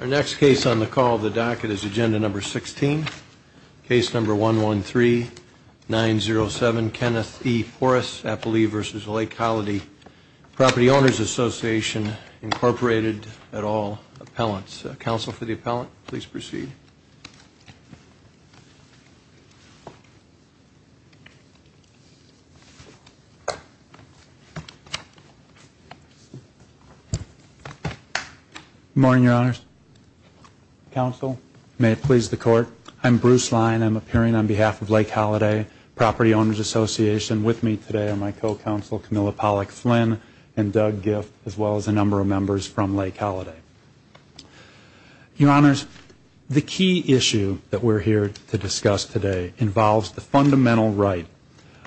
Our next case on the call of the docket is Agenda No. 16, Case No. 113-907, Kenneth E. Poris, Appalee v. Lake Holiday Property Owners Association, Incorporated, et al. Appellants. Counsel for the appellant, please proceed. Good morning, Your Honors. Counsel, may it please the Court, I'm Bruce Lyon. I'm appearing on behalf of Lake Holiday Property Owners Association. With me today are my co-counsel, Camilla Pollack Flynn, and Doug Giff, as well as a number of members from Lake Holiday. Your Honors, the key issue that we're here to discuss today involves the fundamental right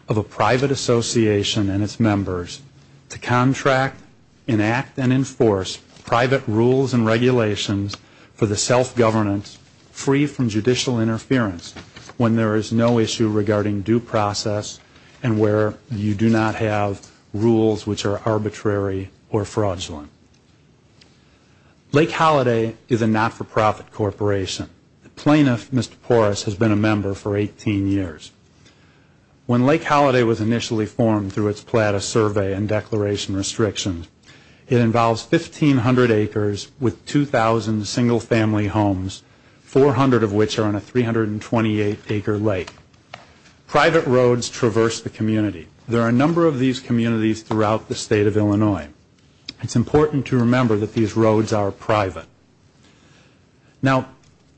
of a private association and its members to contract, enact, and enforce private rules and regulations for the self-governance free from judicial interference when there is no issue regarding due process and where you do not have rules which are arbitrary or fraudulent. Lake Holiday is a not-for-profit corporation. The plaintiff, Mr. Poris, has been a member for 18 years. When Lake Holiday was initially formed through its PLATA survey and declaration restrictions, it involves 1,500 acres with 2,000 single-family homes, 400 of which are on a 328-acre lake. Private roads traverse the community. There are a number of these communities throughout the state of Illinois. It's important to remember that these roads are private. Now,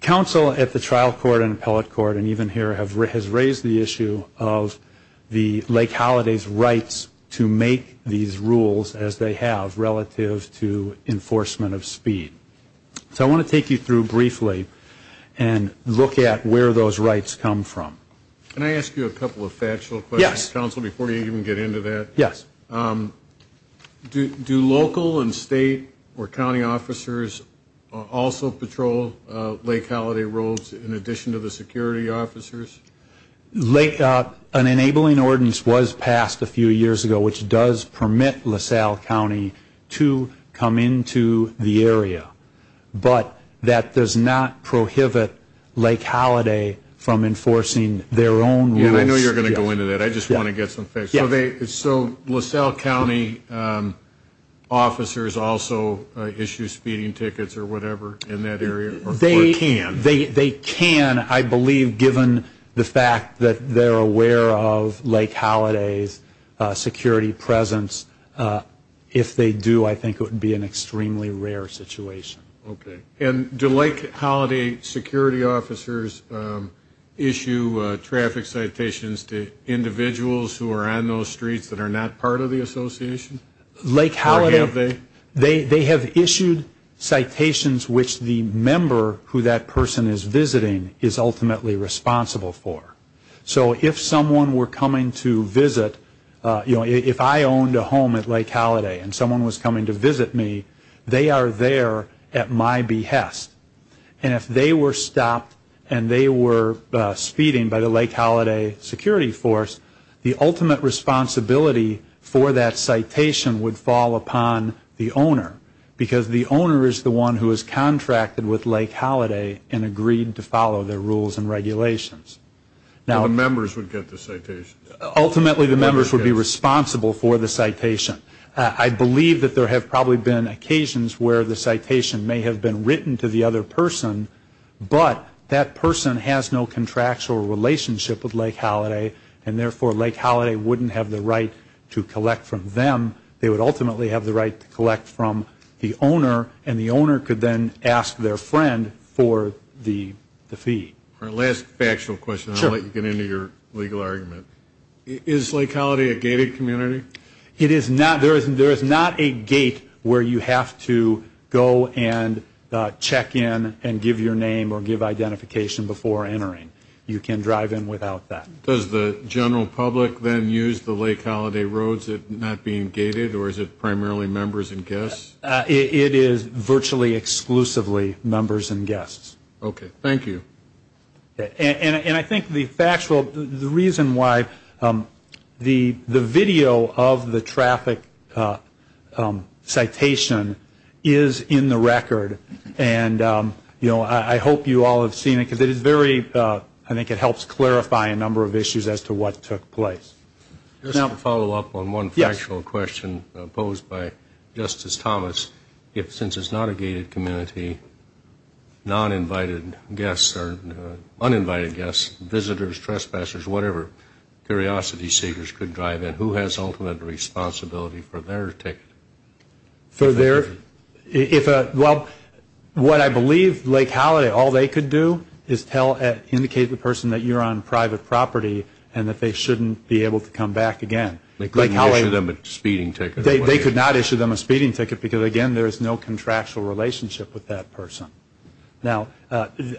counsel at the trial court and appellate court and even here has raised the issue of the Lake Holiday's rights to make these rules as they have relative to enforcement of speed. So I want to take you through briefly and look at where those rights come from. Can I ask you a couple of factual questions, counsel, before you even get into that? Yes. Do local and state or county officers also patrol Lake Holiday roads in addition to the security officers? An enabling ordinance was passed a few years ago, which does permit LaSalle County to come into the area. But that does not prohibit Lake Holiday from enforcing their own rules. I know you're going to go into that. I just want to get some facts. So LaSalle County officers also issue speeding tickets or whatever in that area, or can? They can, I believe, given the fact that they're aware of Lake Holiday's security presence. If they do, I think it would be an extremely rare situation. Okay. And do Lake Holiday security officers issue traffic citations to individuals who are on those streets that are not part of the association? Or have they? They have issued citations which the member who that person is visiting is ultimately responsible for. So if someone were coming to visit, you know, if I owned a home at Lake Holiday and someone was coming to visit me, they are there at my behest. And if they were stopped and they were speeding by the Lake Holiday security force, the ultimate responsibility for that citation would fall upon the owner, because the owner is the one who has contracted with Lake Holiday and agreed to follow their rules and regulations. And the members would get the citations? Ultimately, the members would be responsible for the citation. I believe that there have probably been occasions where the citation may have been written to the other person, but that person has no contractual relationship with Lake Holiday, and therefore Lake Holiday wouldn't have the right to collect from them. They would ultimately have the right to collect from the owner, and the owner could then ask their friend for the fee. Our last factual question. Sure. I'll let you get into your legal argument. Is Lake Holiday a gated community? It is not. There is not a gate where you have to go and check in and give your name or give identification before entering. You can drive in without that. Does the general public then use the Lake Holiday roads not being gated, or is it primarily members and guests? It is virtually exclusively members and guests. Okay. Thank you. And I think the reason why the video of the traffic citation is in the record, and I hope you all have seen it because I think it helps clarify a number of issues as to what took place. Just to follow up on one factual question posed by Justice Thomas, since it's not a gated community, non-invited guests or uninvited guests, visitors, trespassers, whatever curiosity seekers could drive in, who has ultimate responsibility for their ticket? Well, what I believe Lake Holiday, all they could do is indicate to the person that you're on private property and that they shouldn't be able to come back again. They couldn't issue them a speeding ticket. They could not issue them a speeding ticket because, again, there is no contractual relationship with that person. Now,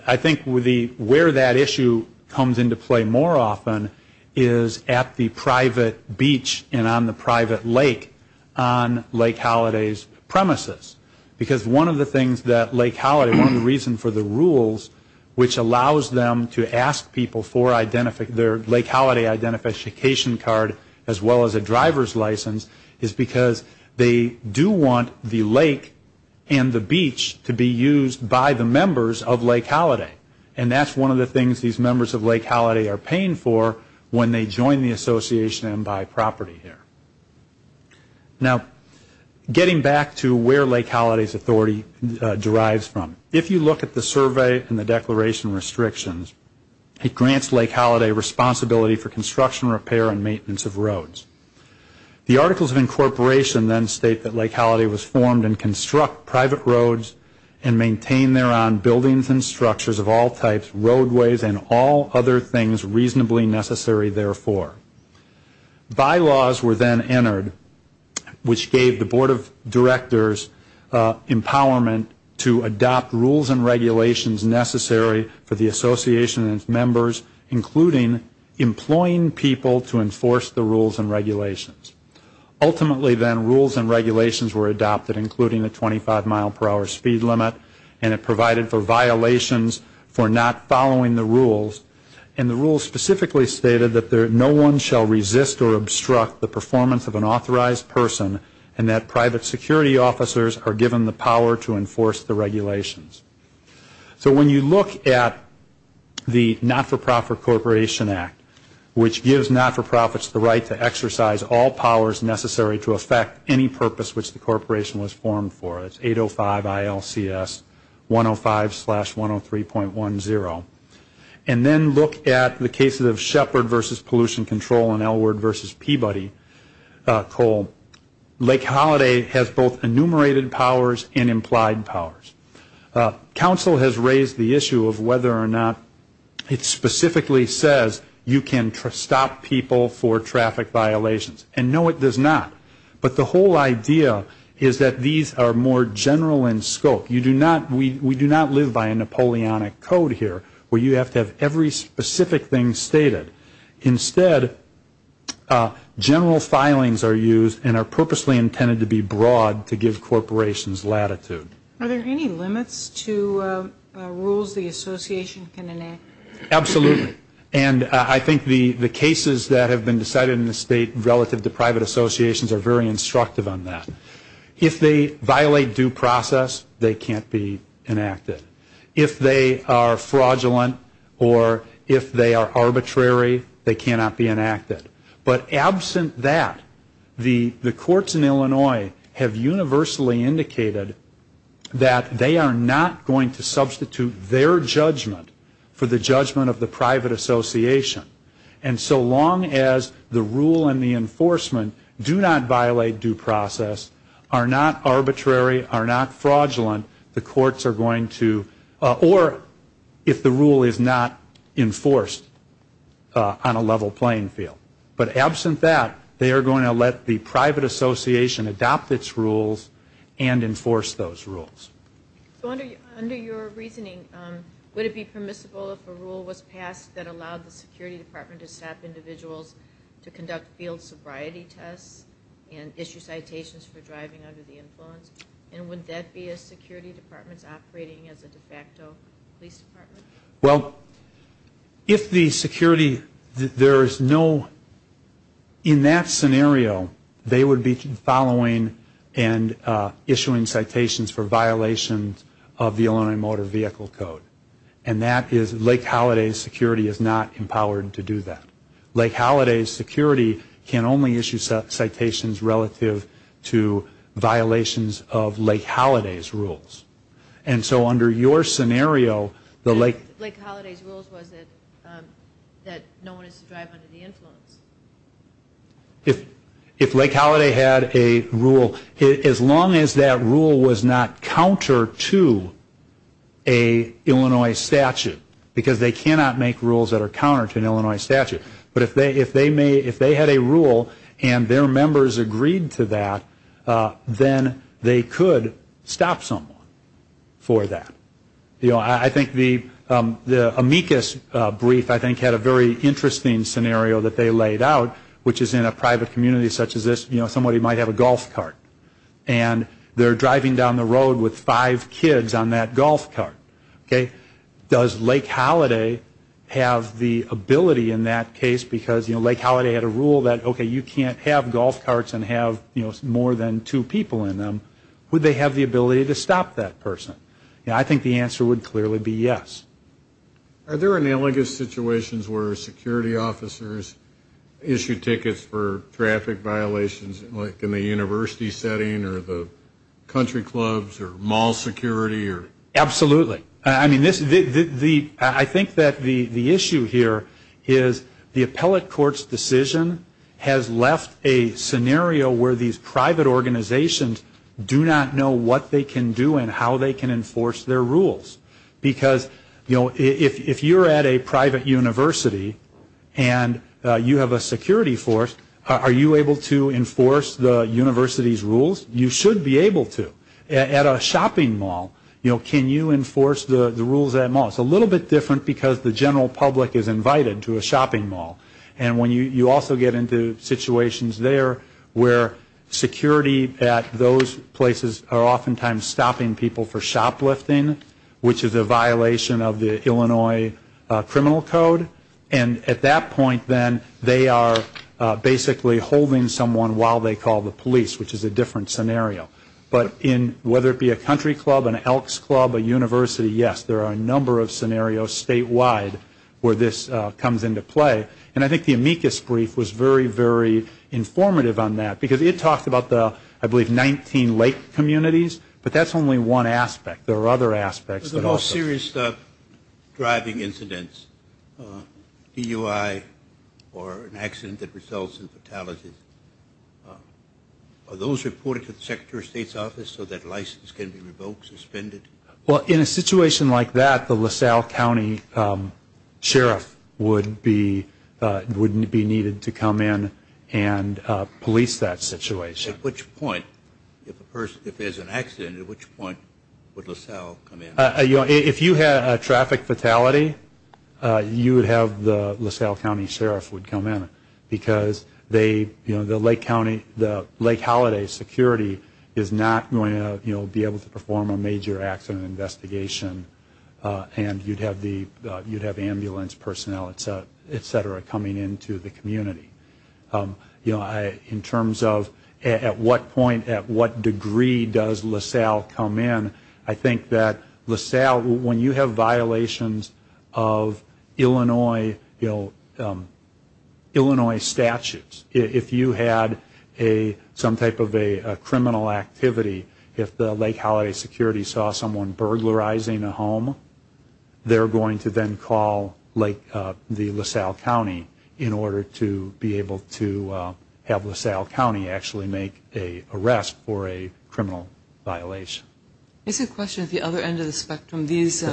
I think where that issue comes into play more often is at the private beach and on the private lake on Lake Holiday's premises. Because one of the things that Lake Holiday, one of the reasons for the rules, which allows them to ask people for their Lake Holiday identification card as well as a driver's license, is because they do want the lake and the beach to be used by the members of Lake Holiday. And that's one of the things these members of Lake Holiday are paying for when they join the association and buy property here. Now, getting back to where Lake Holiday's authority derives from, if you look at the survey and the declaration restrictions, it grants Lake Holiday responsibility for construction, repair, and maintenance of roads. The articles of incorporation then state that Lake Holiday was formed and construct private roads and maintain thereon buildings and structures of all types, roadways, and all other things reasonably necessary therefore. Bylaws were then entered, which gave the Board of Directors empowerment to adopt rules and regulations necessary for the association and its members, including employing people to enforce the rules and regulations. Ultimately then, rules and regulations were adopted, including the 25-mile-per-hour speed limit, and it provided for violations for not following the rules. And the rules specifically stated that no one shall resist or obstruct the performance of an authorized person and that private security officers are given the power to enforce the regulations. So when you look at the Not-for-Profit Corporation Act, which gives not-for-profits the right to exercise all powers necessary to affect any purpose which the corporation was formed for, it's 805 ILCS 105-103.10, and then look at the cases of Shepard v. Pollution Control and Elward v. Peabody Coal, Lake Holiday has both enumerated powers and implied powers. Council has raised the issue of whether or not it specifically says you can stop people for traffic violations. And no, it does not. But the whole idea is that these are more general in scope. We do not live by a Napoleonic code here where you have to have every specific thing stated. Instead, general filings are used and are purposely intended to be broad to give corporations latitude. Are there any limits to rules the association can enact? Absolutely. And I think the cases that have been decided in the state relative to private associations are very instructive on that. If they violate due process, they can't be enacted. If they are fraudulent or if they are arbitrary, they cannot be enacted. But absent that, the courts in Illinois have universally indicated that they are not going to substitute their judgment for the judgment of the private association. And so long as the rule and the enforcement do not violate due process, are not arbitrary, are not fraudulent, the courts are going to, or if the rule is not enforced on a level playing field. But absent that, they are going to let the private association adopt its rules and enforce those rules. So under your reasoning, would it be permissible if a rule was passed that allowed the security department to stop individuals to conduct field sobriety tests and issue citations for driving under the influence? And would that be a security department operating as a de facto police department? Well, if the security, there is no, in that scenario, they would be following and issuing citations for violations of the Illinois Motor Vehicle Code. And that is Lake Holiday Security is not empowered to do that. Lake Holiday Security can only issue citations relative to violations of Lake Holiday's rules. And so under your scenario, the Lake... Lake Holiday's rules was that no one is to drive under the influence. If Lake Holiday had a rule, as long as that rule was not counter to a Illinois statute, because they cannot make rules that are counter to an Illinois statute. But if they had a rule and their members agreed to that, then they could stop someone for that. I think the amicus brief, I think, had a very interesting scenario that they laid out, which is in a private community such as this, somebody might have a golf cart. And they are driving down the road with five kids on that golf cart. Okay? Does Lake Holiday have the ability in that case, because Lake Holiday had a rule that, okay, you can't have golf carts and have more than two people in them. Would they have the ability to stop that person? I think the answer would clearly be yes. Are there analogous situations where security officers issue tickets for traffic violations, like in the university setting or the country clubs or mall security? Absolutely. I mean, I think that the issue here is the appellate court's decision has left a scenario where these private organizations do not know what they can do and how they can enforce their rules. Because, you know, if you're at a private university and you have a security force, are you able to enforce the university's rules? You should be able to. At a shopping mall, you know, can you enforce the rules at a mall? It's a little bit different because the general public is invited to a shopping mall. And you also get into situations there where security at those places are oftentimes stopping people for shoplifting, which is a violation of the Illinois criminal code. And at that point, then, they are basically holding someone while they call the police, which is a different scenario. But in whether it be a country club, an elk's club, a university, yes, there are a number of scenarios statewide where this comes into play. And I think the amicus brief was very, very informative on that because it talked about the, I believe, 19 late communities, but that's only one aspect. There are other aspects that also. There's a whole series of driving incidents, DUI or an accident that results in fatalities. Are those reported to the Secretary of State's office so that license can be revoked, suspended? Well, in a situation like that, the LaSalle County Sheriff wouldn't be needed to come in and police that situation. At which point, if there's an accident, at which point would LaSalle come in? If you had a traffic fatality, you would have the LaSalle County Sheriff would come in because the Lake Holiday Security is not going to be able to perform a major accident investigation and you'd have ambulance personnel, et cetera, coming into the community. In terms of at what point, at what degree does LaSalle come in, I think that LaSalle, when you have violations of Illinois statutes, if you had some type of a criminal activity, if the Lake Holiday Security saw someone burglarizing a home, they're going to then call the LaSalle County in order to be able to have LaSalle County actually make an arrest for a criminal violation. There's a question at the other end of the spectrum. These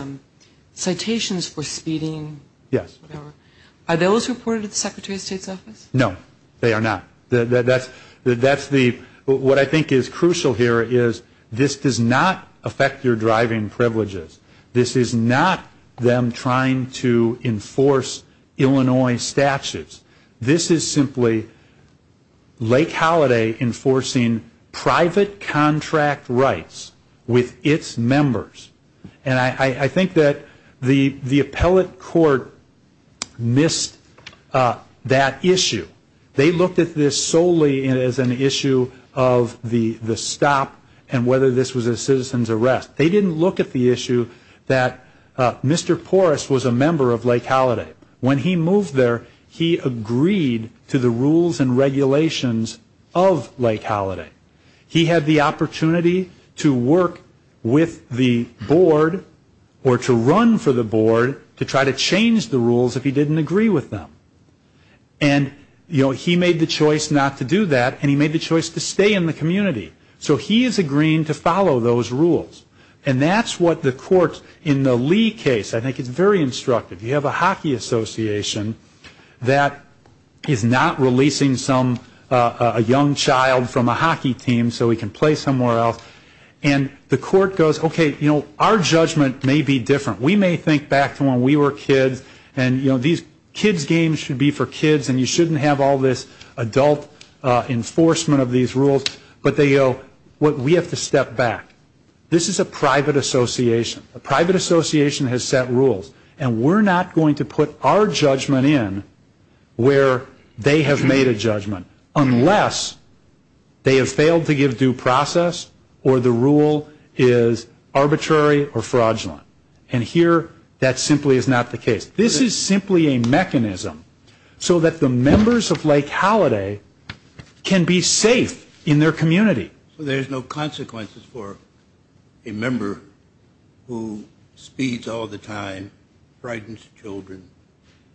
citations for speeding, whatever, are those reported to the Secretary of State's office? No, they are not. What I think is crucial here is this does not affect your driving privileges. This is not them trying to enforce Illinois statutes. This is simply Lake Holiday enforcing private contract rights with its members. And I think that the appellate court missed that issue. They looked at this solely as an issue of the stop and whether this was a citizen's arrest. They didn't look at the issue that Mr. Porras was a member of Lake Holiday. When he moved there, he agreed to the rules and regulations of Lake Holiday. He had the opportunity to work with the board or to run for the board to try to change the rules if he didn't agree with them. And he made the choice not to do that, and he made the choice to stay in the community. So he is agreeing to follow those rules. And that's what the court in the Lee case, I think it's very instructive. You have a hockey association that is not releasing a young child from a hockey team so he can play somewhere else. And the court goes, okay, our judgment may be different. We may think back to when we were kids, and these kids games should be for kids, and you shouldn't have all this adult enforcement of these rules. But we have to step back. This is a private association. A private association has set rules. And we're not going to put our judgment in where they have made a judgment unless they have failed to give due process or the rule is arbitrary or fraudulent. And here that simply is not the case. This is simply a mechanism so that the members of Lake Holiday can be safe in their community. Right. So there's no consequences for a member who speeds all the time, frightens children,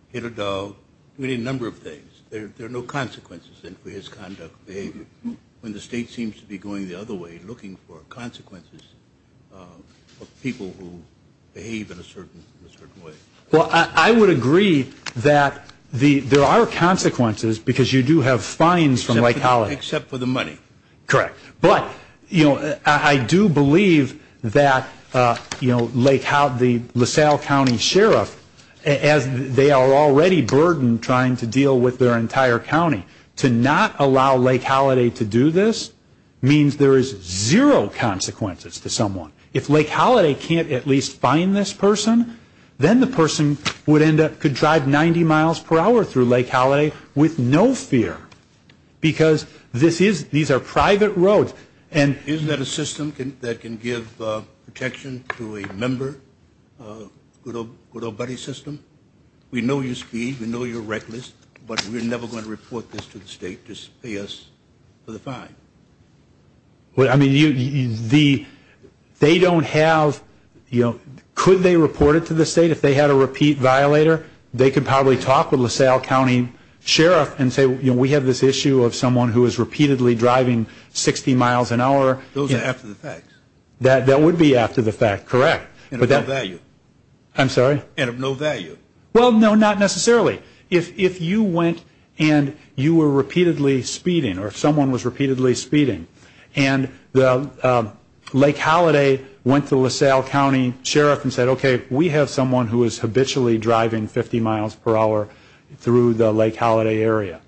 hit a dog, doing a number of things. There are no consequences then for his conduct and behavior when the state seems to be going the other way, looking for consequences of people who behave in a certain way. Well, I would agree that there are consequences because you do have fines from Lake Holiday. Except for the money. Correct. But I do believe that the LaSalle County Sheriff, as they are already burdened trying to deal with their entire county, to not allow Lake Holiday to do this means there is zero consequences to someone. If Lake Holiday can't at least find this person, then the person could drive 90 miles per hour through Lake Holiday with no fear because these are private roads. Isn't that a system that can give protection to a member, a good old buddy system? We know you speed. We know you're reckless. But we're never going to report this to the state to pay us for the fine. I mean, they don't have, you know, could they report it to the state if they had a repeat violator? They could probably talk with LaSalle County Sheriff and say, you know, we have this issue of someone who is repeatedly driving 60 miles an hour. Those are after the facts. That would be after the fact. Correct. And of no value. I'm sorry? And of no value. Well, no, not necessarily. If you went and you were repeatedly speeding or someone was repeatedly speeding and Lake Holiday went to LaSalle County Sheriff and said, okay, we have someone who is habitually driving 50 miles per hour through the Lake Holiday area.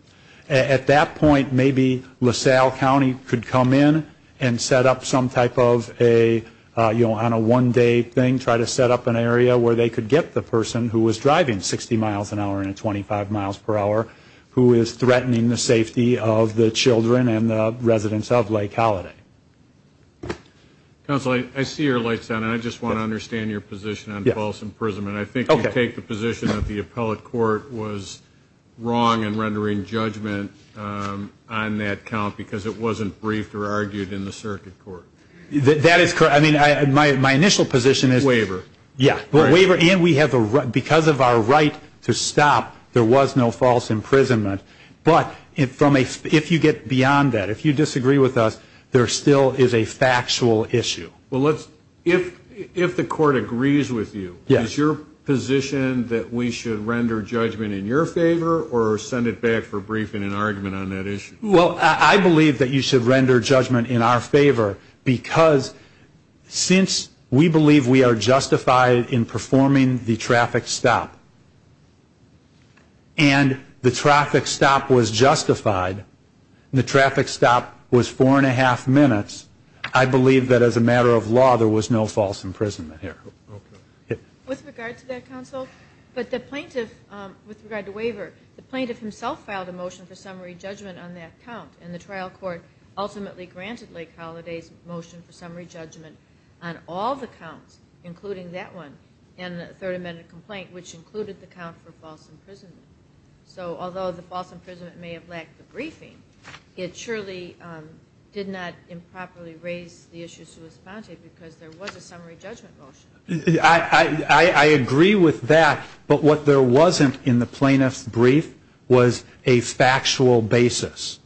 At that point, maybe LaSalle County could come in and set up some type of a, you know, on a one-day thing, try to set up an area where they could get the person who was driving 60 miles an hour and 25 miles per hour who is threatening the safety of the children and the residents of Lake Holiday. Counsel, I see your light's on. I just want to understand your position on false imprisonment. I think you take the position that the appellate court was wrong in rendering judgment on that count because it wasn't briefed or argued in the circuit court. That is correct. I mean, my initial position is. Waiver. Yeah, waiver. And we have a right, because of our right to stop, there was no false imprisonment. But if you get beyond that, if you disagree with us, there still is a factual issue. Well, if the court agrees with you, is your position that we should render judgment in your favor or send it back for briefing and argument on that issue? Well, I believe that you should render judgment in our favor because since we believe we are justified in performing the traffic stop, and the traffic stop was justified, and the traffic stop was four and a half minutes, I believe that as a matter of law there was no false imprisonment here. Okay. With regard to that, counsel, but the plaintiff, with regard to waiver, the plaintiff himself filed a motion for summary judgment on that count, and the trial court ultimately granted Lake Holiday's motion for summary judgment on all the counts, including that one, and the Third Amendment complaint, which included the count for false imprisonment. So although the false imprisonment may have lacked the briefing, it surely did not improperly raise the issue to respond to it because there was a summary judgment motion. I agree with that, but what there wasn't in the plaintiff's brief was a factual basis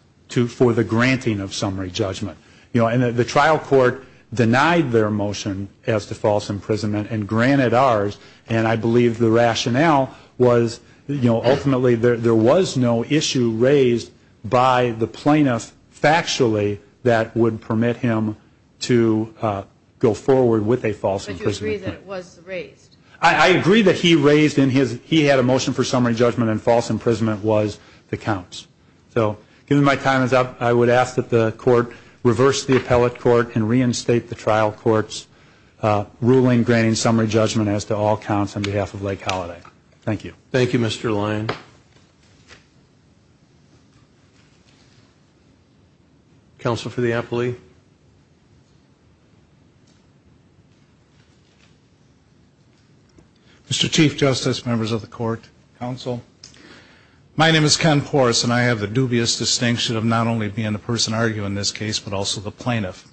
for the granting of summary judgment. You know, and the trial court denied their motion as to false imprisonment and granted ours, and I believe the rationale was, you know, ultimately there was no issue raised by the plaintiff factually that would permit him to go forward with a false imprisonment. But you agree that it was raised? I agree that he raised in his, he had a motion for summary judgment and false imprisonment was the counts. So given my time is up, I would ask that the court reverse the appellate court and reinstate the trial court's ruling granting summary judgment as to all counts on behalf of Lake Holiday. Thank you. Thank you, Mr. Lyon. Counsel for the appellee. Mr. Chief Justice, members of the court, counsel, My name is Ken Porras, and I have the dubious distinction of not only being the person arguing this case, but also the plaintiff.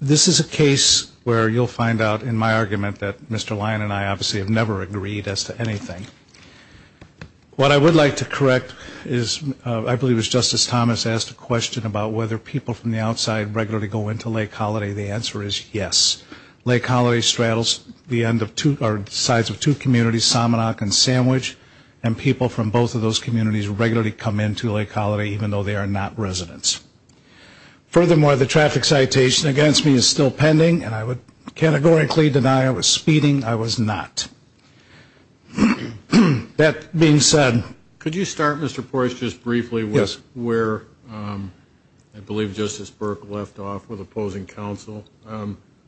This is a case where you'll find out in my argument that Mr. Lyon and I obviously have never agreed as to anything. What I would like to correct is, I believe it was Justice Thomas asked a question about whether people from the outside regularly go into Lake Holiday. The answer is yes. Lake Holiday straddles the sides of two communities, Salmonauk and Sandwich, and people from both of those communities regularly come into Lake Holiday even though they are not residents. Furthermore, the traffic citation against me is still pending, and I would categorically deny I was speeding. I was not. That being said, Could you start, Mr. Porras, just briefly with where I believe Justice Burke left off with opposing counsel.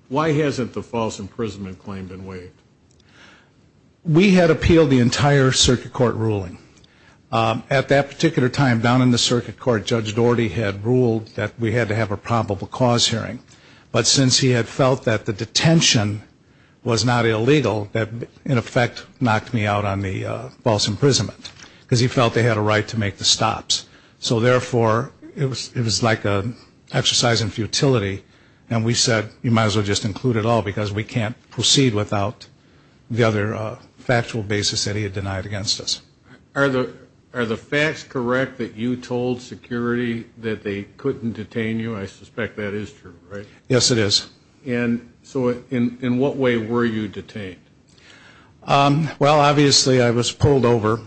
Why hasn't the false imprisonment claim been waived? We had appealed the entire circuit court ruling. At that particular time down in the circuit court, Judge Doherty had ruled that we had to have a probable cause hearing. But since he had felt that the detention was not illegal, that in effect knocked me out on the false imprisonment, because he felt they had a right to make the stops. So therefore, it was like an exercise in futility, and we said, you might as well just include it all because we can't proceed without the other factual basis that he had denied against us. Are the facts correct that you told security that they couldn't detain you? I suspect that is true, right? Yes, it is. And so in what way were you detained? Well, obviously I was pulled over.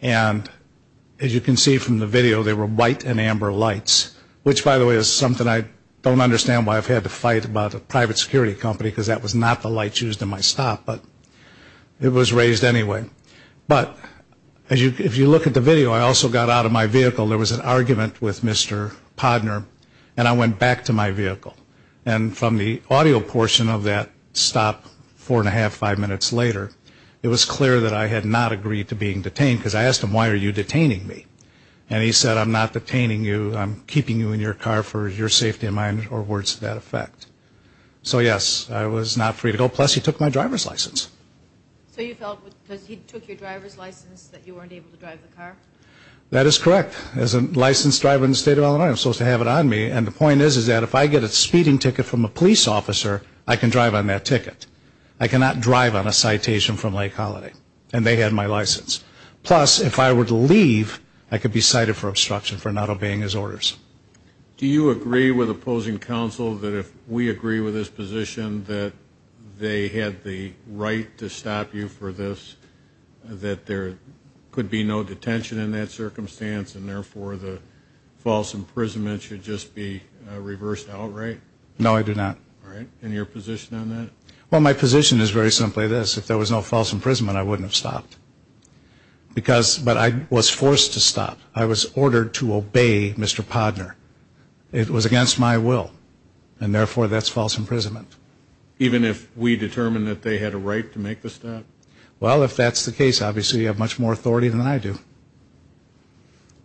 And as you can see from the video, there were white and amber lights, which, by the way, is something I don't understand why I've had to fight about a private security company, because that was not the light used in my stop, but it was raised anyway. But if you look at the video, I also got out of my vehicle. There was an argument with Mr. Podner, and I went back to my vehicle. And from the audio portion of that stop four and a half, five minutes later, it was clear that I had not agreed to being detained because I asked him, why are you detaining me? And he said, I'm not detaining you. I'm keeping you in your car for your safety and mine, or words to that effect. So, yes, I was not free to go. Plus, he took my driver's license. So you felt because he took your driver's license that you weren't able to drive the car? That is correct. As a licensed driver in the state of Illinois, I'm supposed to have it on me. And the point is, is that if I get a speeding ticket from a police officer, I can drive on that ticket. I cannot drive on a citation from Lake Holiday. And they had my license. Plus, if I were to leave, I could be cited for obstruction for not obeying his orders. Do you agree with opposing counsel that if we agree with his position, that they had the right to stop you for this, that there could be no detention in that circumstance and, therefore, the false imprisonment should just be reversed outright? No, I do not. All right. And your position on that? Well, my position is very simply this. If there was no false imprisonment, I wouldn't have stopped. But I was forced to stop. I was ordered to obey Mr. Podner. It was against my will. And, therefore, that's false imprisonment. Even if we determined that they had a right to make the stop? Well, if that's the case, obviously, you have much more authority than I do.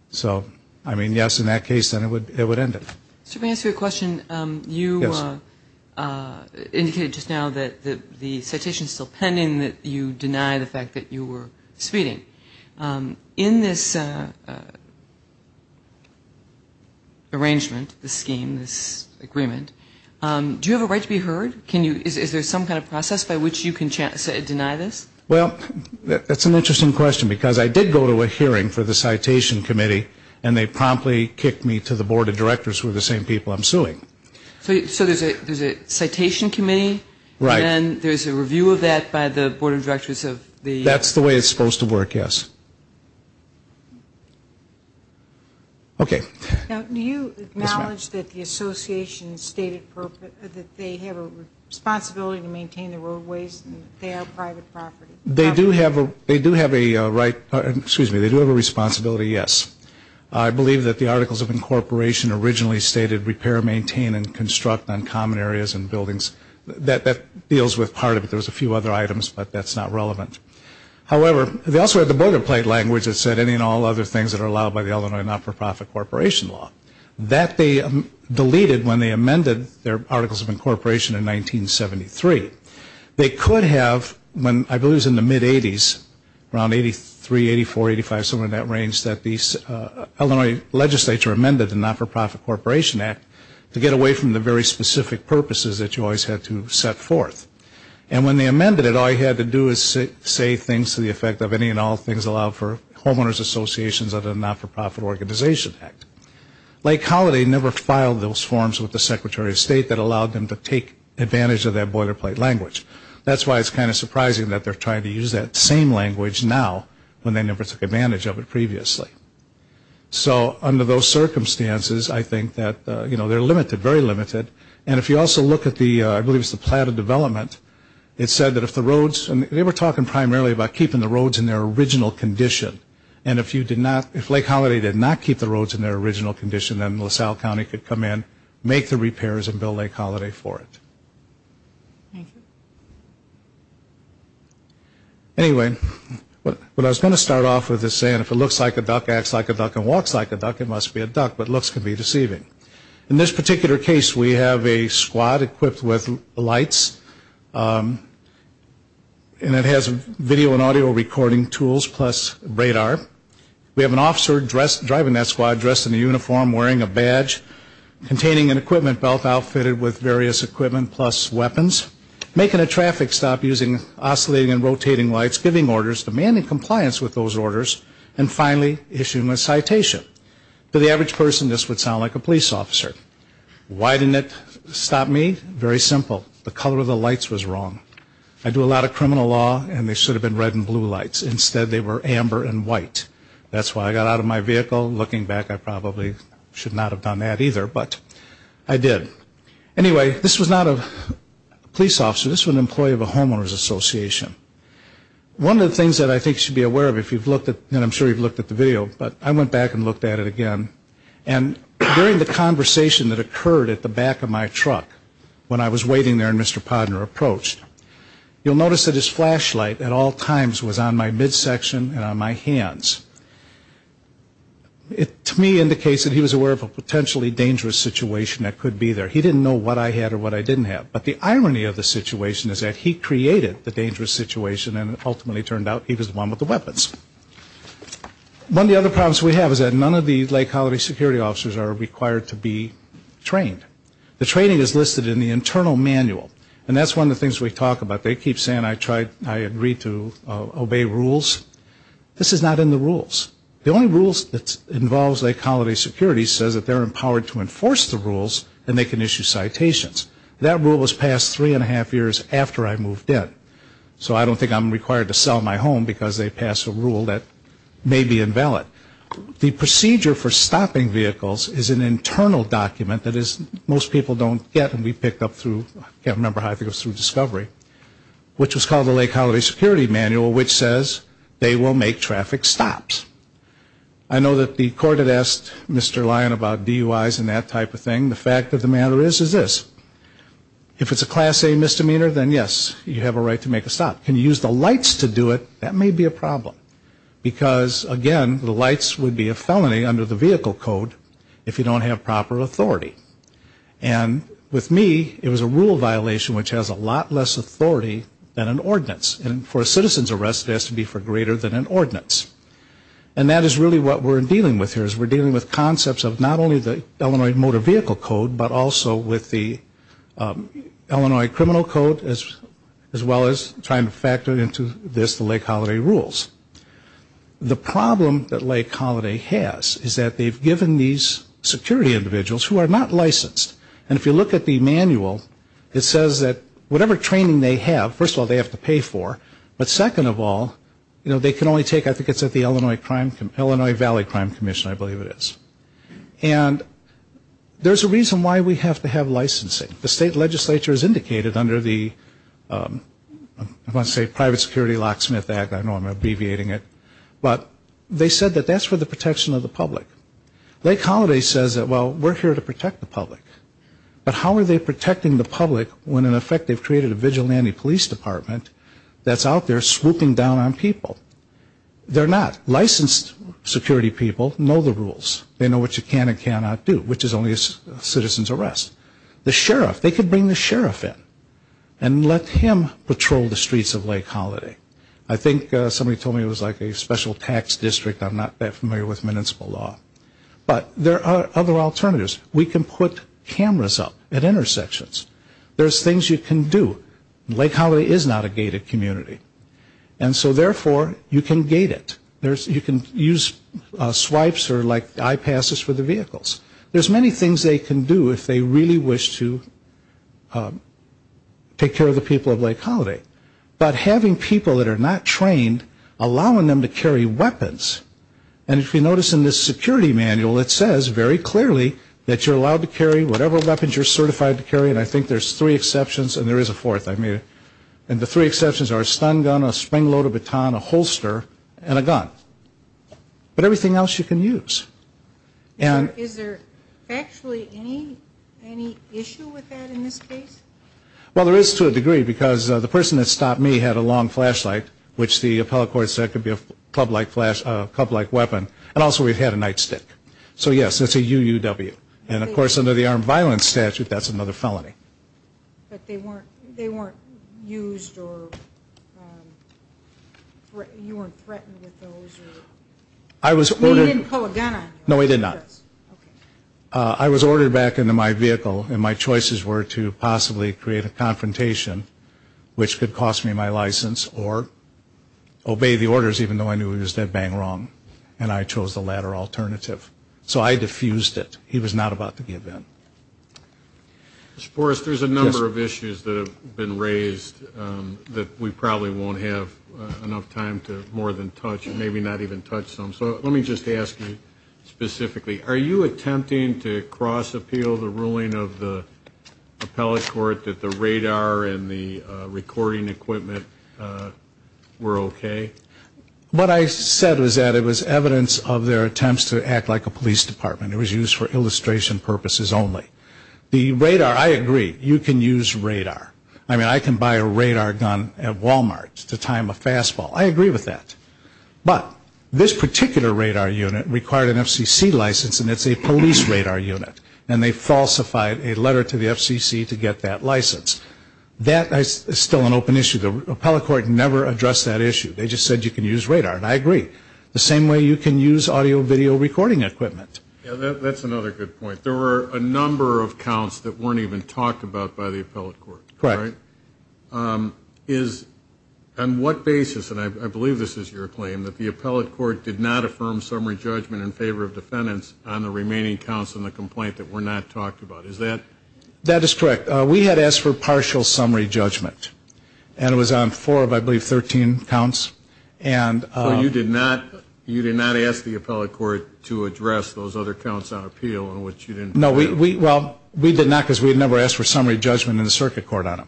So, I mean, yes, in that case, then it would end it. Sir, may I ask you a question? Yes. You indicated just now that the citation is still pending, that you deny the fact that you were speeding. In this arrangement, this scheme, this agreement, do you have a right to be heard? Is there some kind of process by which you can deny this? Well, that's an interesting question because I did go to a hearing for the citation committee and they promptly kicked me to the board of directors who are the same people I'm suing. So there's a citation committee? Right. And then there's a review of that by the board of directors of the? That's the way it's supposed to work, yes. Okay. Now, do you acknowledge that the association stated that they have a responsibility to maintain the roadways and they have private property? They do have a right, excuse me, they do have a responsibility, yes. I believe that the Articles of Incorporation originally stated repair, maintain, and construct on common areas and buildings. That deals with part of it. There was a few other items, but that's not relevant. However, they also had the boilerplate language that said any and all other things that are allowed by the Illinois not-for-profit corporation law. That they deleted when they amended their Articles of Incorporation in 1973. They could have, I believe it was in the mid-80s, around 83, 84, 85, somewhere in that range, that the Illinois legislature amended the Not-for-Profit Corporation Act to get away from the very specific purposes that you always had to set forth. And when they amended it, all you had to do is say things to the effect of any and all things allowed for homeowners associations under the Not-for-Profit Organization Act. Lake Holiday never filed those forms with the Secretary of State that allowed them to take advantage of that boilerplate language. That's why it's kind of surprising that they're trying to use that same language now when they never took advantage of it previously. So under those circumstances, I think that, you know, they're limited, very limited. And if you also look at the, I believe it was the Plan of Development, it said that if the roads, and they were talking primarily about keeping the roads in their original condition. And if you did not, if Lake Holiday did not keep the roads in their original condition, then LaSalle County could come in, make the repairs, and bill Lake Holiday for it. Thank you. Anyway, what I was going to start off with is saying if it looks like a duck, acts like a duck, and walks like a duck, it must be a duck. But looks can be deceiving. In this particular case, we have a squad equipped with lights. And it has video and audio recording tools plus radar. We have an officer dressed, driving that squad, dressed in a uniform, wearing a badge, containing an equipment belt outfitted with various equipment plus weapons, making a traffic stop using oscillating and rotating lights, giving orders, demanding compliance with those orders, and finally issuing a citation. To the average person, this would sound like a police officer. Why didn't it stop me? Very simple. The color of the lights was wrong. I do a lot of criminal law, and they should have been red and blue lights. Instead, they were amber and white. That's why I got out of my vehicle. Looking back, I probably should not have done that either, but I did. Anyway, this was not a police officer. This was an employee of a homeowner's association. One of the things that I think you should be aware of, and I'm sure you've looked at the video, but I went back and looked at it again. And during the conversation that occurred at the back of my truck when I was waiting there Mr. Podner approached, you'll notice that his flashlight at all times was on my midsection and on my hands. It, to me, indicates that he was aware of a potentially dangerous situation that could be there. He didn't know what I had or what I didn't have. But the irony of the situation is that he created the dangerous situation, and it ultimately turned out he was the one with the weapons. One of the other problems we have is that none of the Lake Colony security officers are required to be trained. The training is listed in the internal manual. And that's one of the things we talk about. They keep saying I agreed to obey rules. This is not in the rules. The only rules that involves Lake Colony security says that they're empowered to enforce the rules and they can issue citations. That rule was passed three and a half years after I moved in. So I don't think I'm required to sell my home because they passed a rule that may be invalid. The procedure for stopping vehicles is an internal document that most people don't get and we picked up through, I can't remember how it goes, through discovery, which was called the Lake Colony Security Manual, which says they will make traffic stops. I know that the court had asked Mr. Lyon about DUIs and that type of thing. The fact of the matter is, is this. If it's a Class A misdemeanor, then, yes, you have a right to make a stop. Can you use the lights to do it? That may be a problem. Because, again, the lights would be a felony under the Vehicle Code if you don't have proper authority. And with me, it was a rule violation which has a lot less authority than an ordinance. And for a citizen's arrest, it has to be for greater than an ordinance. And that is really what we're dealing with here, is we're dealing with concepts of not only the Illinois Motor Vehicle Code, but also with the Illinois Criminal Code, as well as trying to factor into this the Lake Colony rules. The problem that Lake Colony has is that they've given these security individuals who are not licensed. And if you look at the manual, it says that whatever training they have, first of all, they have to pay for, but second of all, they can only take, I think it's at the Illinois Valley Crime Commission, I believe it is. And there's a reason why we have to have licensing. The state legislature has indicated under the, I want to say Private Security Locksmith Act. I know I'm abbreviating it. But they said that that's for the protection of the public. Lake Colony says that, well, we're here to protect the public. But how are they protecting the public when, in effect, they've created a vigilante police department that's out there swooping down on people? They're not. Licensed security people know the rules. They know what you can and cannot do, which is only a citizen's arrest. The sheriff, they could bring the sheriff in and let him patrol the streets of Lake Colony. I think somebody told me it was like a special tax district. I'm not that familiar with municipal law. But there are other alternatives. We can put cameras up at intersections. There's things you can do. Lake Colony is not a gated community. And so, therefore, you can gate it. You can use swipes or, like, eye passes for the vehicles. There's many things they can do if they really wish to take care of the people of Lake Colony. But having people that are not trained, allowing them to carry weapons, and if you notice in this security manual, it says very clearly that you're allowed to carry whatever weapons you're certified to carry, and I think there's three exceptions, and there is a fourth. And the three exceptions are a stun gun, a spring loaded baton, a holster, and a gun. But everything else you can use. Is there actually any issue with that in this case? Well, there is to a degree, because the person that stopped me had a long flashlight, which the appellate court said could be a club-like weapon. And also we've had a nightstick. So, yes, it's a UUW. And, of course, under the armed violence statute, that's another felony. But they weren't used or you weren't threatened with those? He didn't pull a gun on you? No, he did not. Okay. I was ordered back into my vehicle, and my choices were to possibly create a confrontation, which could cost me my license, or obey the orders, even though I knew he was dead bang wrong, and I chose the latter alternative. So I defused it. He was not about to give in. Mr. Forrest, there's a number of issues that have been raised that we probably won't have enough time to more than touch, maybe not even touch some. So let me just ask you specifically, are you attempting to cross-appeal the ruling of the appellate court that the radar and the recording equipment were okay? What I said was that it was evidence of their attempts to act like a police department. It was used for illustration purposes only. The radar, I agree. You can use radar. I mean, I can buy a radar gun at Walmart to time a fastball. I agree with that. But this particular radar unit required an FCC license, and it's a police radar unit, and they falsified a letter to the FCC to get that license. That is still an open issue. The appellate court never addressed that issue. They just said you can use radar, and I agree. The same way you can use audio-video recording equipment. That's another good point. There were a number of counts that weren't even talked about by the appellate court. Correct. On what basis, and I believe this is your claim, that the appellate court did not affirm summary judgment in favor of defendants on the remaining counts in the complaint that were not talked about? That is correct. We had asked for partial summary judgment, and it was on four of, I believe, 13 counts. So you did not ask the appellate court to address those other counts on appeal in which you didn't? No. Well, we did not because we had never asked for summary judgment in the circuit court on them.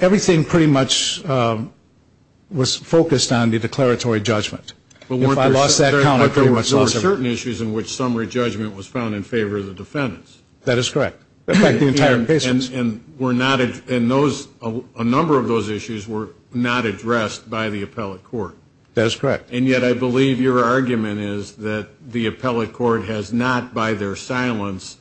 Everything pretty much was focused on the declaratory judgment. If I lost that count, I pretty much lost it. But weren't there certain issues in which summary judgment was found in favor of the defendants? That is correct. In fact, the entire case was. And a number of those issues were not addressed by the appellate court. That is correct. And yet I believe your argument is that the appellate court has not, by their silence,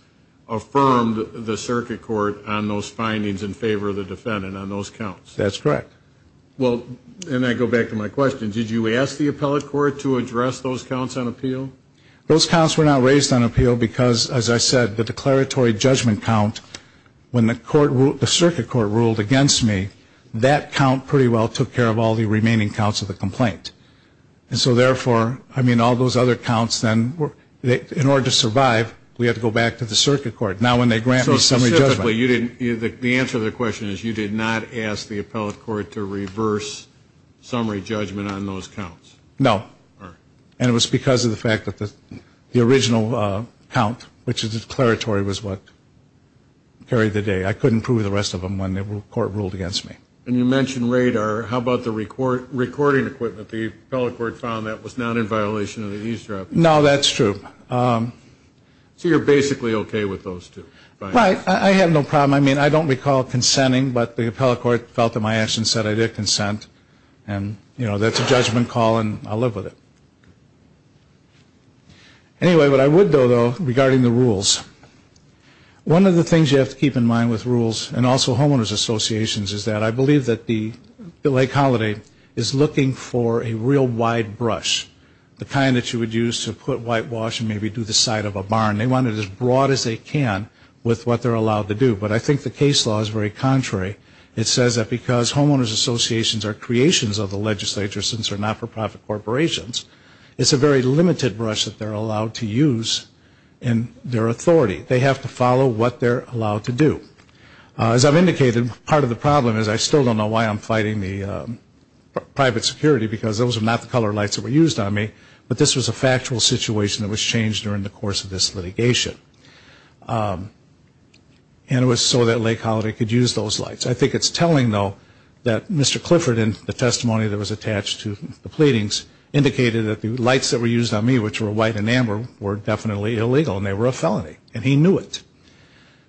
affirmed the circuit court on those findings in favor of the defendant on those counts. That is correct. Well, and I go back to my question. Did you ask the appellate court to address those counts on appeal? Those counts were not raised on appeal because, as I said, the declaratory judgment count, when the circuit court ruled against me, that count pretty well took care of all the remaining counts of the complaint. And so, therefore, I mean, all those other counts then, in order to survive, we had to go back to the circuit court. Now when they grant me summary judgment. So, specifically, the answer to the question is you did not ask the appellate court to reverse summary judgment on those counts? No. All right. And it was because of the fact that the original count, which is declaratory, was what carried the day. I couldn't prove the rest of them when the court ruled against me. And you mentioned radar. How about the recording equipment? The appellate court found that was not in violation of the eavesdropping. No, that's true. So you're basically okay with those two findings? Right. I have no problem. I mean, I don't recall consenting, but the appellate court felt that my action said I did consent. And, you know, that's a judgment call, and I'll live with it. Anyway, what I would know, though, regarding the rules, one of the things you have to keep in mind with rules and also homeowners associations is that I believe that the Lake Holiday is looking for a real wide brush, the kind that you would use to put whitewash and maybe do the side of a barn. They want it as broad as they can with what they're allowed to do. But I think the case law is very contrary. It says that because homeowners associations are creations of the legislature since they're not-for-profit corporations, it's a very limited brush that they're allowed to use in their authority. They have to follow what they're allowed to do. As I've indicated, part of the problem is I still don't know why I'm fighting the private security because those are not the color lights that were used on me, but this was a factual situation that was changed during the course of this litigation. And it was so that Lake Holiday could use those lights. I think it's telling, though, that Mr. Clifford, in the testimony that was attached to the pleadings, indicated that the lights that were used on me, which were white and amber, were definitely illegal and they were a felony. And he knew it.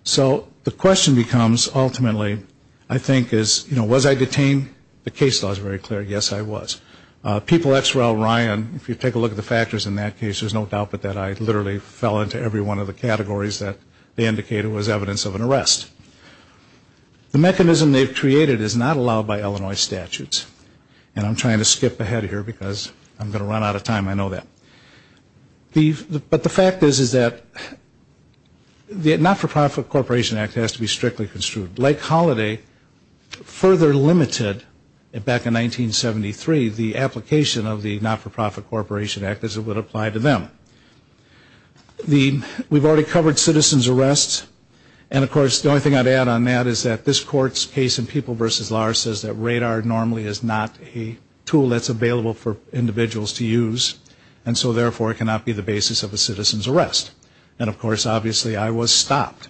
So the question becomes, ultimately, I think, was I detained? The case law is very clear. Yes, I was. People at XREL, Ryan, if you take a look at the factors in that case, there's no doubt that I literally fell into every one of the categories that they indicated was evidence of an arrest. The mechanism they've created is not allowed by Illinois statutes. And I'm trying to skip ahead here because I'm going to run out of time. I know that. But the fact is that the Not-for-Profit Corporation Act has to be strictly construed. Lake Holiday further limited, back in 1973, the application of the Not-for-Profit Corporation Act as it would apply to them. We've already covered citizen's arrests. And, of course, the only thing I'd add on that is that this Court's case in People v. Lahr says that radar normally is not a tool that's available for individuals to use. And so, therefore, it cannot be the basis of a citizen's arrest. And, of course, obviously I was stopped.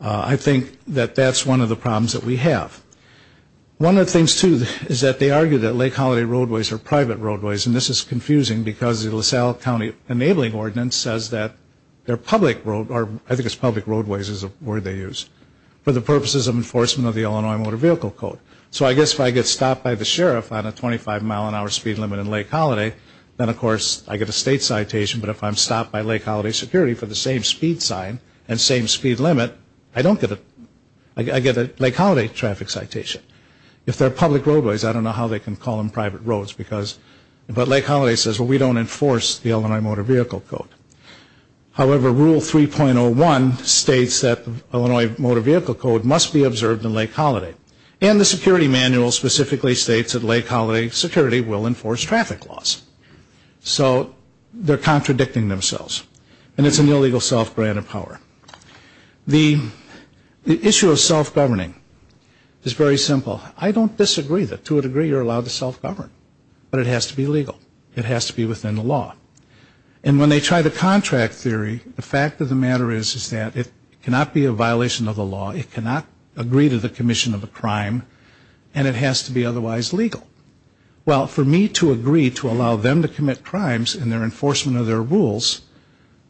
I think that that's one of the problems that we have. One of the things, too, is that they argue that Lake Holiday roadways are private roadways. And this is confusing because the LaSalle County Enabling Ordinance says that they're public roadways, or I think it's public roadways is a word they use, for the purposes of enforcement of the Illinois Motor Vehicle Code. So I guess if I get stopped by the sheriff on a 25-mile-an-hour speed limit in Lake Holiday, then, of course, I get a state citation. But if I'm stopped by Lake Holiday security for the same speed sign and same speed limit, I get a Lake Holiday traffic citation. If they're public roadways, I don't know how they can call them private roads. But Lake Holiday says, well, we don't enforce the Illinois Motor Vehicle Code. However, Rule 3.01 states that the Illinois Motor Vehicle Code must be observed in Lake Holiday. And the security manual specifically states that Lake Holiday security will enforce traffic laws. So they're contradicting themselves. And it's an illegal self-granted power. The issue of self-governing is very simple. I don't disagree that, to a degree, you're allowed to self-govern. But it has to be legal. It has to be within the law. And when they try the contract theory, the fact of the matter is, is that it cannot be a violation of the law, it cannot agree to the commission of a crime, and it has to be otherwise legal. Well, for me to agree to allow them to commit crimes in their enforcement of their rules,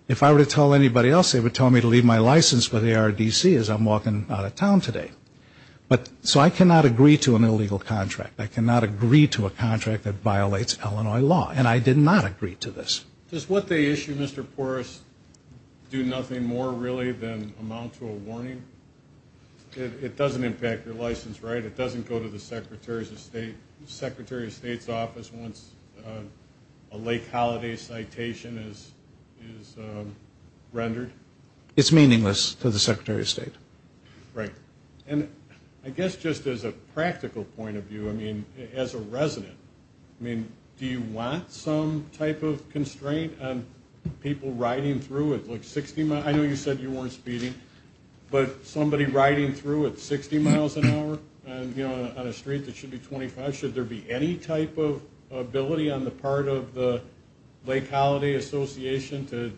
if I were to tell anybody else, they would tell me to leave my license with ARDC as I'm walking out of town today. So I cannot agree to an illegal contract. I cannot agree to a contract that violates Illinois law. And I did not agree to this. Does what they issue, Mr. Porras, do nothing more, really, than amount to a warning? It doesn't impact your license, right? It doesn't go to the Secretary of State's office once a Lake Holiday citation is rendered? It's meaningless to the Secretary of State. Right. And I guess just as a practical point of view, I mean, as a resident, I mean, do you want some type of constraint on people riding through at, like, 60 miles? I know you said you weren't speeding. But somebody riding through at 60 miles an hour on a street that should be 25, should there be any type of ability on the part of the Lake Holiday Association to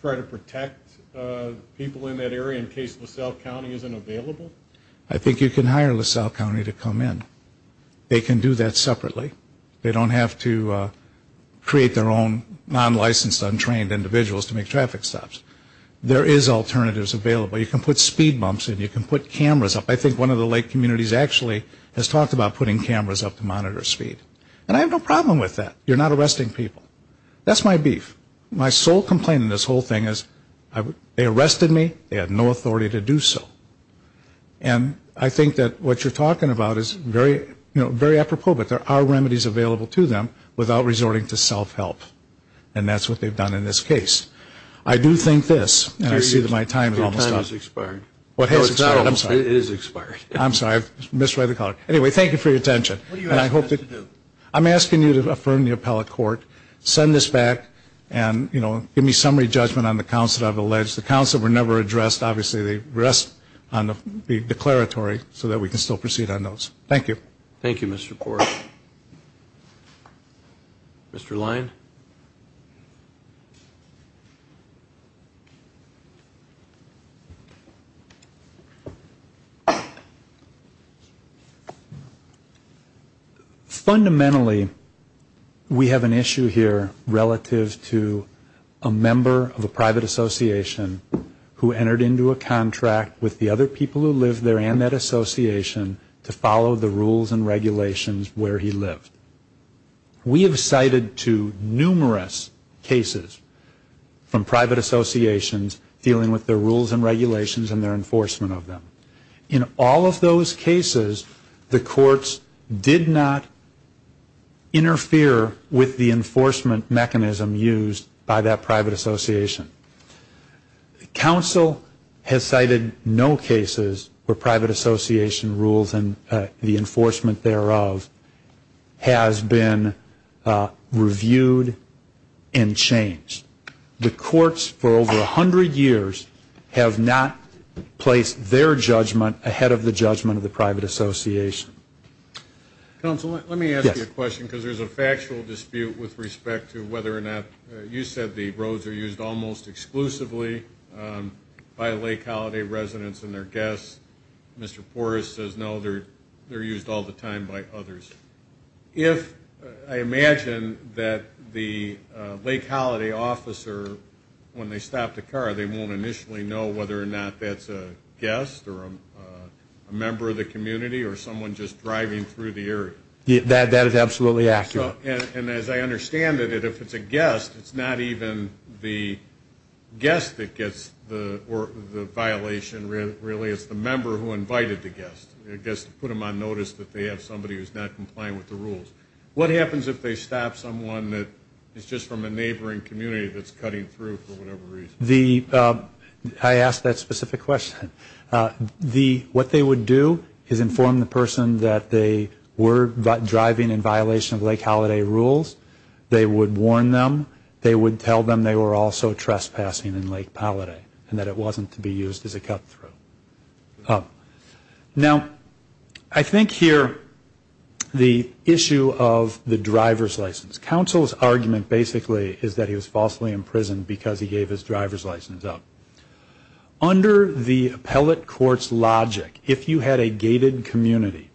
try to protect people in that area in case LaSalle County isn't available? I think you can hire LaSalle County to come in. They can do that separately. They don't have to create their own non-licensed, untrained individuals to make traffic stops. There is alternatives available. You can put speed bumps in. You can put cameras up. I think one of the Lake communities actually has talked about putting cameras up to monitor speed. And I have no problem with that. You're not arresting people. That's my beef. My sole complaint in this whole thing is they arrested me, they had no authority to do so. And I think that what you're talking about is very apropos, but there are remedies available to them without resorting to self-help. And that's what they've done in this case. I do think this, and I see that my time is almost up. Your time has expired. What has expired? I'm sorry. It is expired. I'm sorry. I misread the call. Anyway, thank you for your attention. What are you asking us to do? I'm asking you to affirm the appellate court, send this back, and give me summary judgment on the counts that I've alleged. The counts that were never addressed, obviously they rest on the declaratory so that we can still proceed on those. Thank you. Thank you, Mr. Porter. Mr. Lyne. Fundamentally, we have an issue here relative to a member of a private association who entered into a contract with the other people who live there and that association to follow the rules and regulations where he lived. We have cited to numerous cases from private associations dealing with their rules and regulations and their enforcement of them. In all of those cases, the courts did not interfere with the enforcement mechanism used by that private association. Counsel has cited no cases where private association rules and the enforcement thereof has been reviewed and changed. The courts, for over 100 years, have not placed their judgment ahead of the judgment of the private association. Counsel, let me ask you a question because there's a factual dispute with respect to whether or not you said the roads are used almost exclusively by Lake Holiday residents and their guests. Mr. Porter says no, they're used all the time by others. If I imagine that the Lake Holiday officer, when they stop the car, they won't initially know whether or not that's a guest or a member of the community or someone just driving through the area. That is absolutely accurate. And as I understand it, if it's a guest, it's not even the guest that gets the violation, really. It's the member who invited the guest. The guest put them on notice that they have somebody who's not complying with the rules. What happens if they stop someone that is just from a neighboring community that's cutting through for whatever reason? I asked that specific question. What they would do is inform the person that they were driving in violation of Lake Holiday rules. They would warn them. They would tell them they were also trespassing in Lake Holiday and that it wasn't to be used as a cutthroat. Now, I think here the issue of the driver's license. Counsel's argument, basically, is that he was falsely imprisoned because he gave his driver's license up. Under the appellate court's logic, if you had a gated community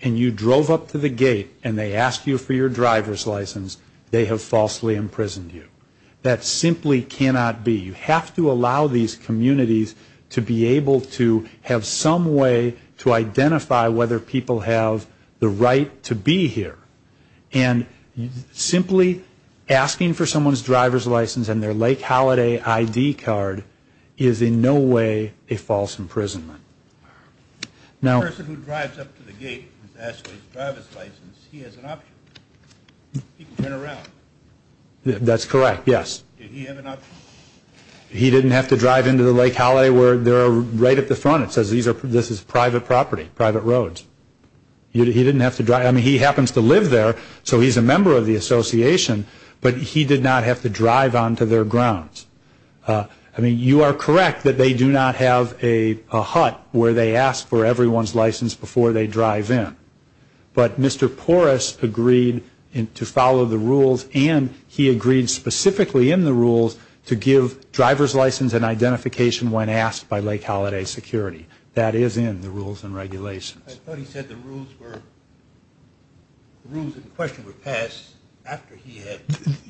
and you drove up to the gate and they asked you for your driver's license, they have falsely imprisoned you. That simply cannot be. You have to allow these communities to be able to have some way to identify whether people have the right to be here. And simply asking for someone's driver's license and their Lake Holiday ID card is in no way a false imprisonment. The person who drives up to the gate and asks for his driver's license, he has an option. He can turn around. That's correct, yes. Did he have an option? He didn't have to drive into the Lake Holiday where they're right at the front. It says this is private property, private roads. He didn't have to drive. I mean, he happens to live there, so he's a member of the association, but he did not have to drive onto their grounds. I mean, you are correct that they do not have a hut where they ask for everyone's license before they drive in. But Mr. Porras agreed to follow the rules and he agreed specifically in the rules to give driver's license and identification when asked by Lake Holiday security. That is in the rules and regulations. I thought he said the rules in question were passed after he had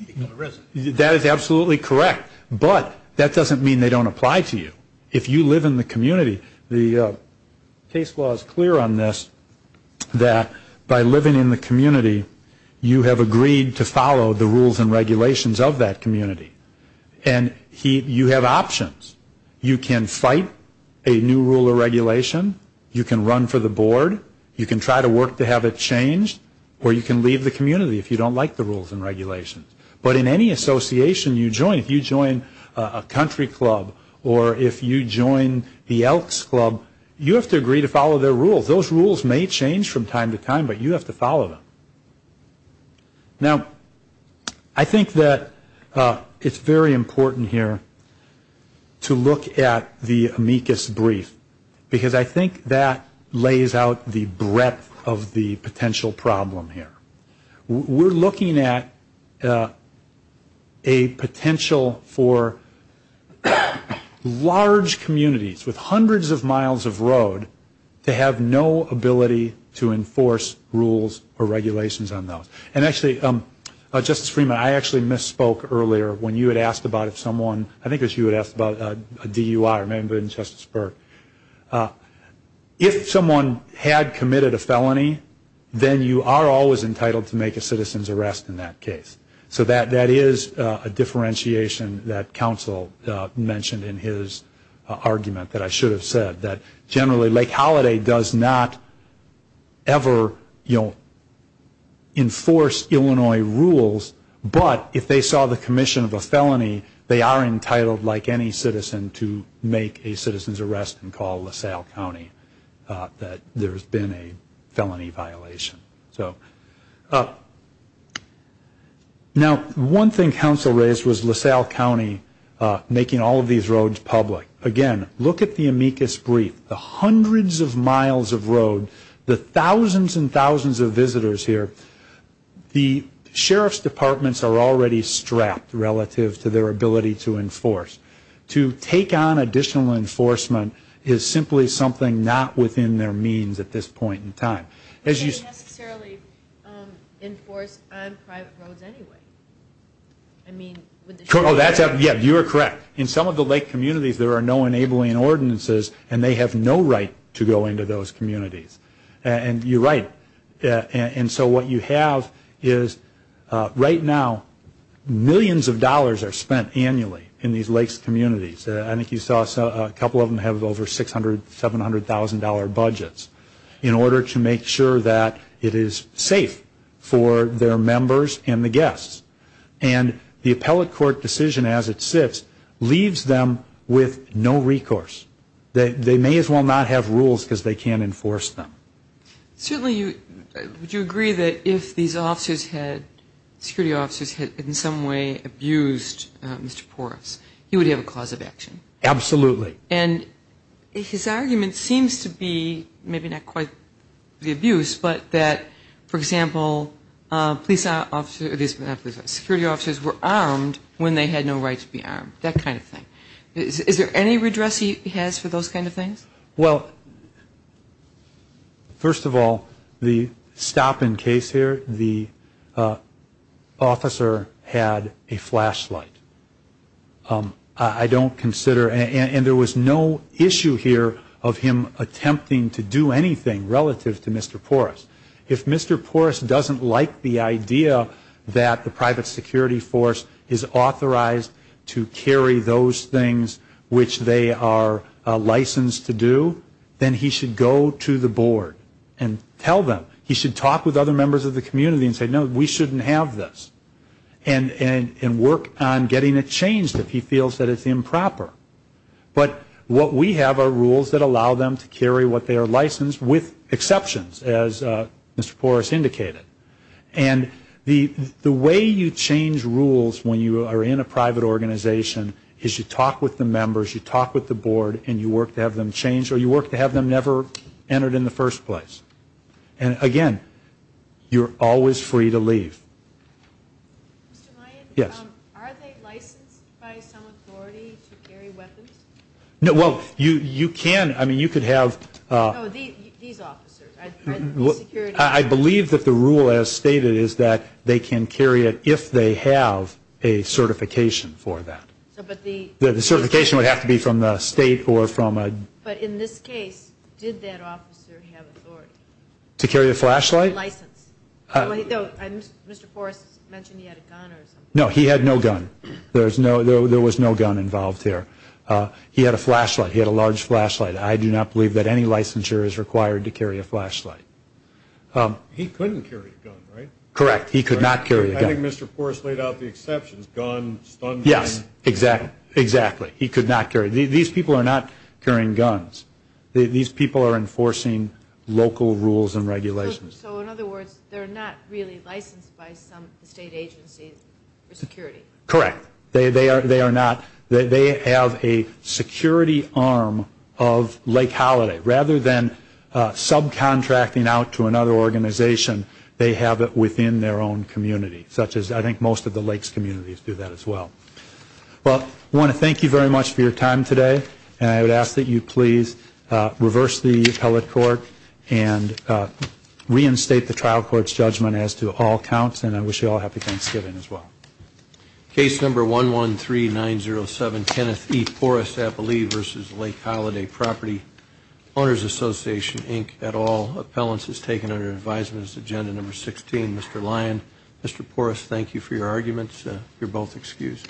taken the residence. That is absolutely correct, but that doesn't mean they don't apply to you. If you live in the community, the case law is clear on this, that by living in the community you have agreed to follow the rules and regulations of that community. And you have options. You can fight a new rule or regulation. You can run for the board. You can try to work to have it changed, or you can leave the community if you don't like the rules and regulations. But in any association you join, if you join a country club or if you join the Elks Club, you have to agree to follow their rules. Those rules may change from time to time, but you have to follow them. Now, I think that it's very important here to look at the amicus brief because I think that lays out the breadth of the potential problem here. We're looking at a potential for large communities with hundreds of miles of road to have no ability to enforce rules or regulations on those. And actually, Justice Freeman, I actually misspoke earlier when you had asked about if someone, I think it was you who had asked about a DUI, remember, in Justice Burke. If someone had committed a felony, then you are always entitled to make a citizen's arrest in that case. So that is a differentiation that counsel mentioned in his argument that I should have said, that generally Lake Holiday does not ever enforce Illinois rules, but if they saw the commission of a felony, they are entitled, like any citizen, to make a citizen's arrest and call LaSalle County that there has been a felony violation. Now, one thing counsel raised was LaSalle County making all of these roads public. Again, look at the amicus brief. The hundreds of miles of road, the thousands and thousands of visitors here, the sheriff's departments are already strapped relative to their ability to enforce. To take on additional enforcement is simply something not within their means at this point in time. It can't necessarily enforce on private roads anyway. I mean, with the sheriff. Yeah, you are correct. In some of the lake communities, there are no enabling ordinances, and they have no right to go into those communities. And you are right. And so what you have is, right now, millions of dollars are spent annually in these lakes communities. I think you saw a couple of them have over $600,000, $700,000 budgets, in order to make sure that it is safe for their members and the guests. And the appellate court decision as it sits leaves them with no recourse. They may as well not have rules because they can't enforce them. Certainly, would you agree that if these officers had, security officers had in some way abused Mr. Porras, he would have a cause of action? Absolutely. And his argument seems to be, maybe not quite the abuse, but that, for example, police officers, security officers were armed when they had no right to be armed, that kind of thing. Is there any redress he has for those kind of things? Well, first of all, the stop and case here, the officer had a flashlight. I don't consider, and there was no issue here of him attempting to do anything relative to Mr. Porras. If Mr. Porras doesn't like the idea that the private security force is authorized to carry those things which they are licensed to do, then he should go to the board and tell them. He should talk with other members of the community and say, no, we shouldn't have this. And work on getting it changed if he feels that it's improper. But what we have are rules that allow them to carry what they are licensed with exceptions, as Mr. Porras indicated. And the way you change rules when you are in a private organization is you talk with the members, you talk with the board, and you work to have them change, or you work to have them never entered in the first place. And, again, you're always free to leave. Mr. Mayen? Yes. Are they licensed by some authority to carry weapons? No. Well, you can. I mean, you could have. Oh, these officers. I believe that the rule as stated is that they can carry it if they have a certification for that. But the. The certification would have to be from the state or from. But in this case, did that officer have authority? To carry a flashlight? License. Mr. Porras mentioned he had a gun or something. No, he had no gun. There was no gun involved there. He had a flashlight. He had a large flashlight. I do not believe that any licensure is required to carry a flashlight. He couldn't carry a gun, right? Correct. He could not carry a gun. I think Mr. Porras laid out the exceptions, gun, stun gun. Yes, exactly. He could not carry. These people are not carrying guns. These people are enforcing local rules and regulations. So, in other words, they're not really licensed by some state agency for security? Correct. They are not. They have a security arm of Lake Holiday. Rather than subcontracting out to another organization, they have it within their own community, such as I think most of the Lakes communities do that as well. Well, I want to thank you very much for your time today. And I would ask that you please reverse the appellate court and reinstate the trial court's judgment as to all counts. And I wish you all a happy Thanksgiving as well. Case number 113907, Kenneth E. Porras, I believe, versus Lake Holiday Property Owners Association, Inc., et al. Appellants is taken under advisement as agenda number 16. Mr. Lyon, Mr. Porras, thank you for your arguments. You're both excused.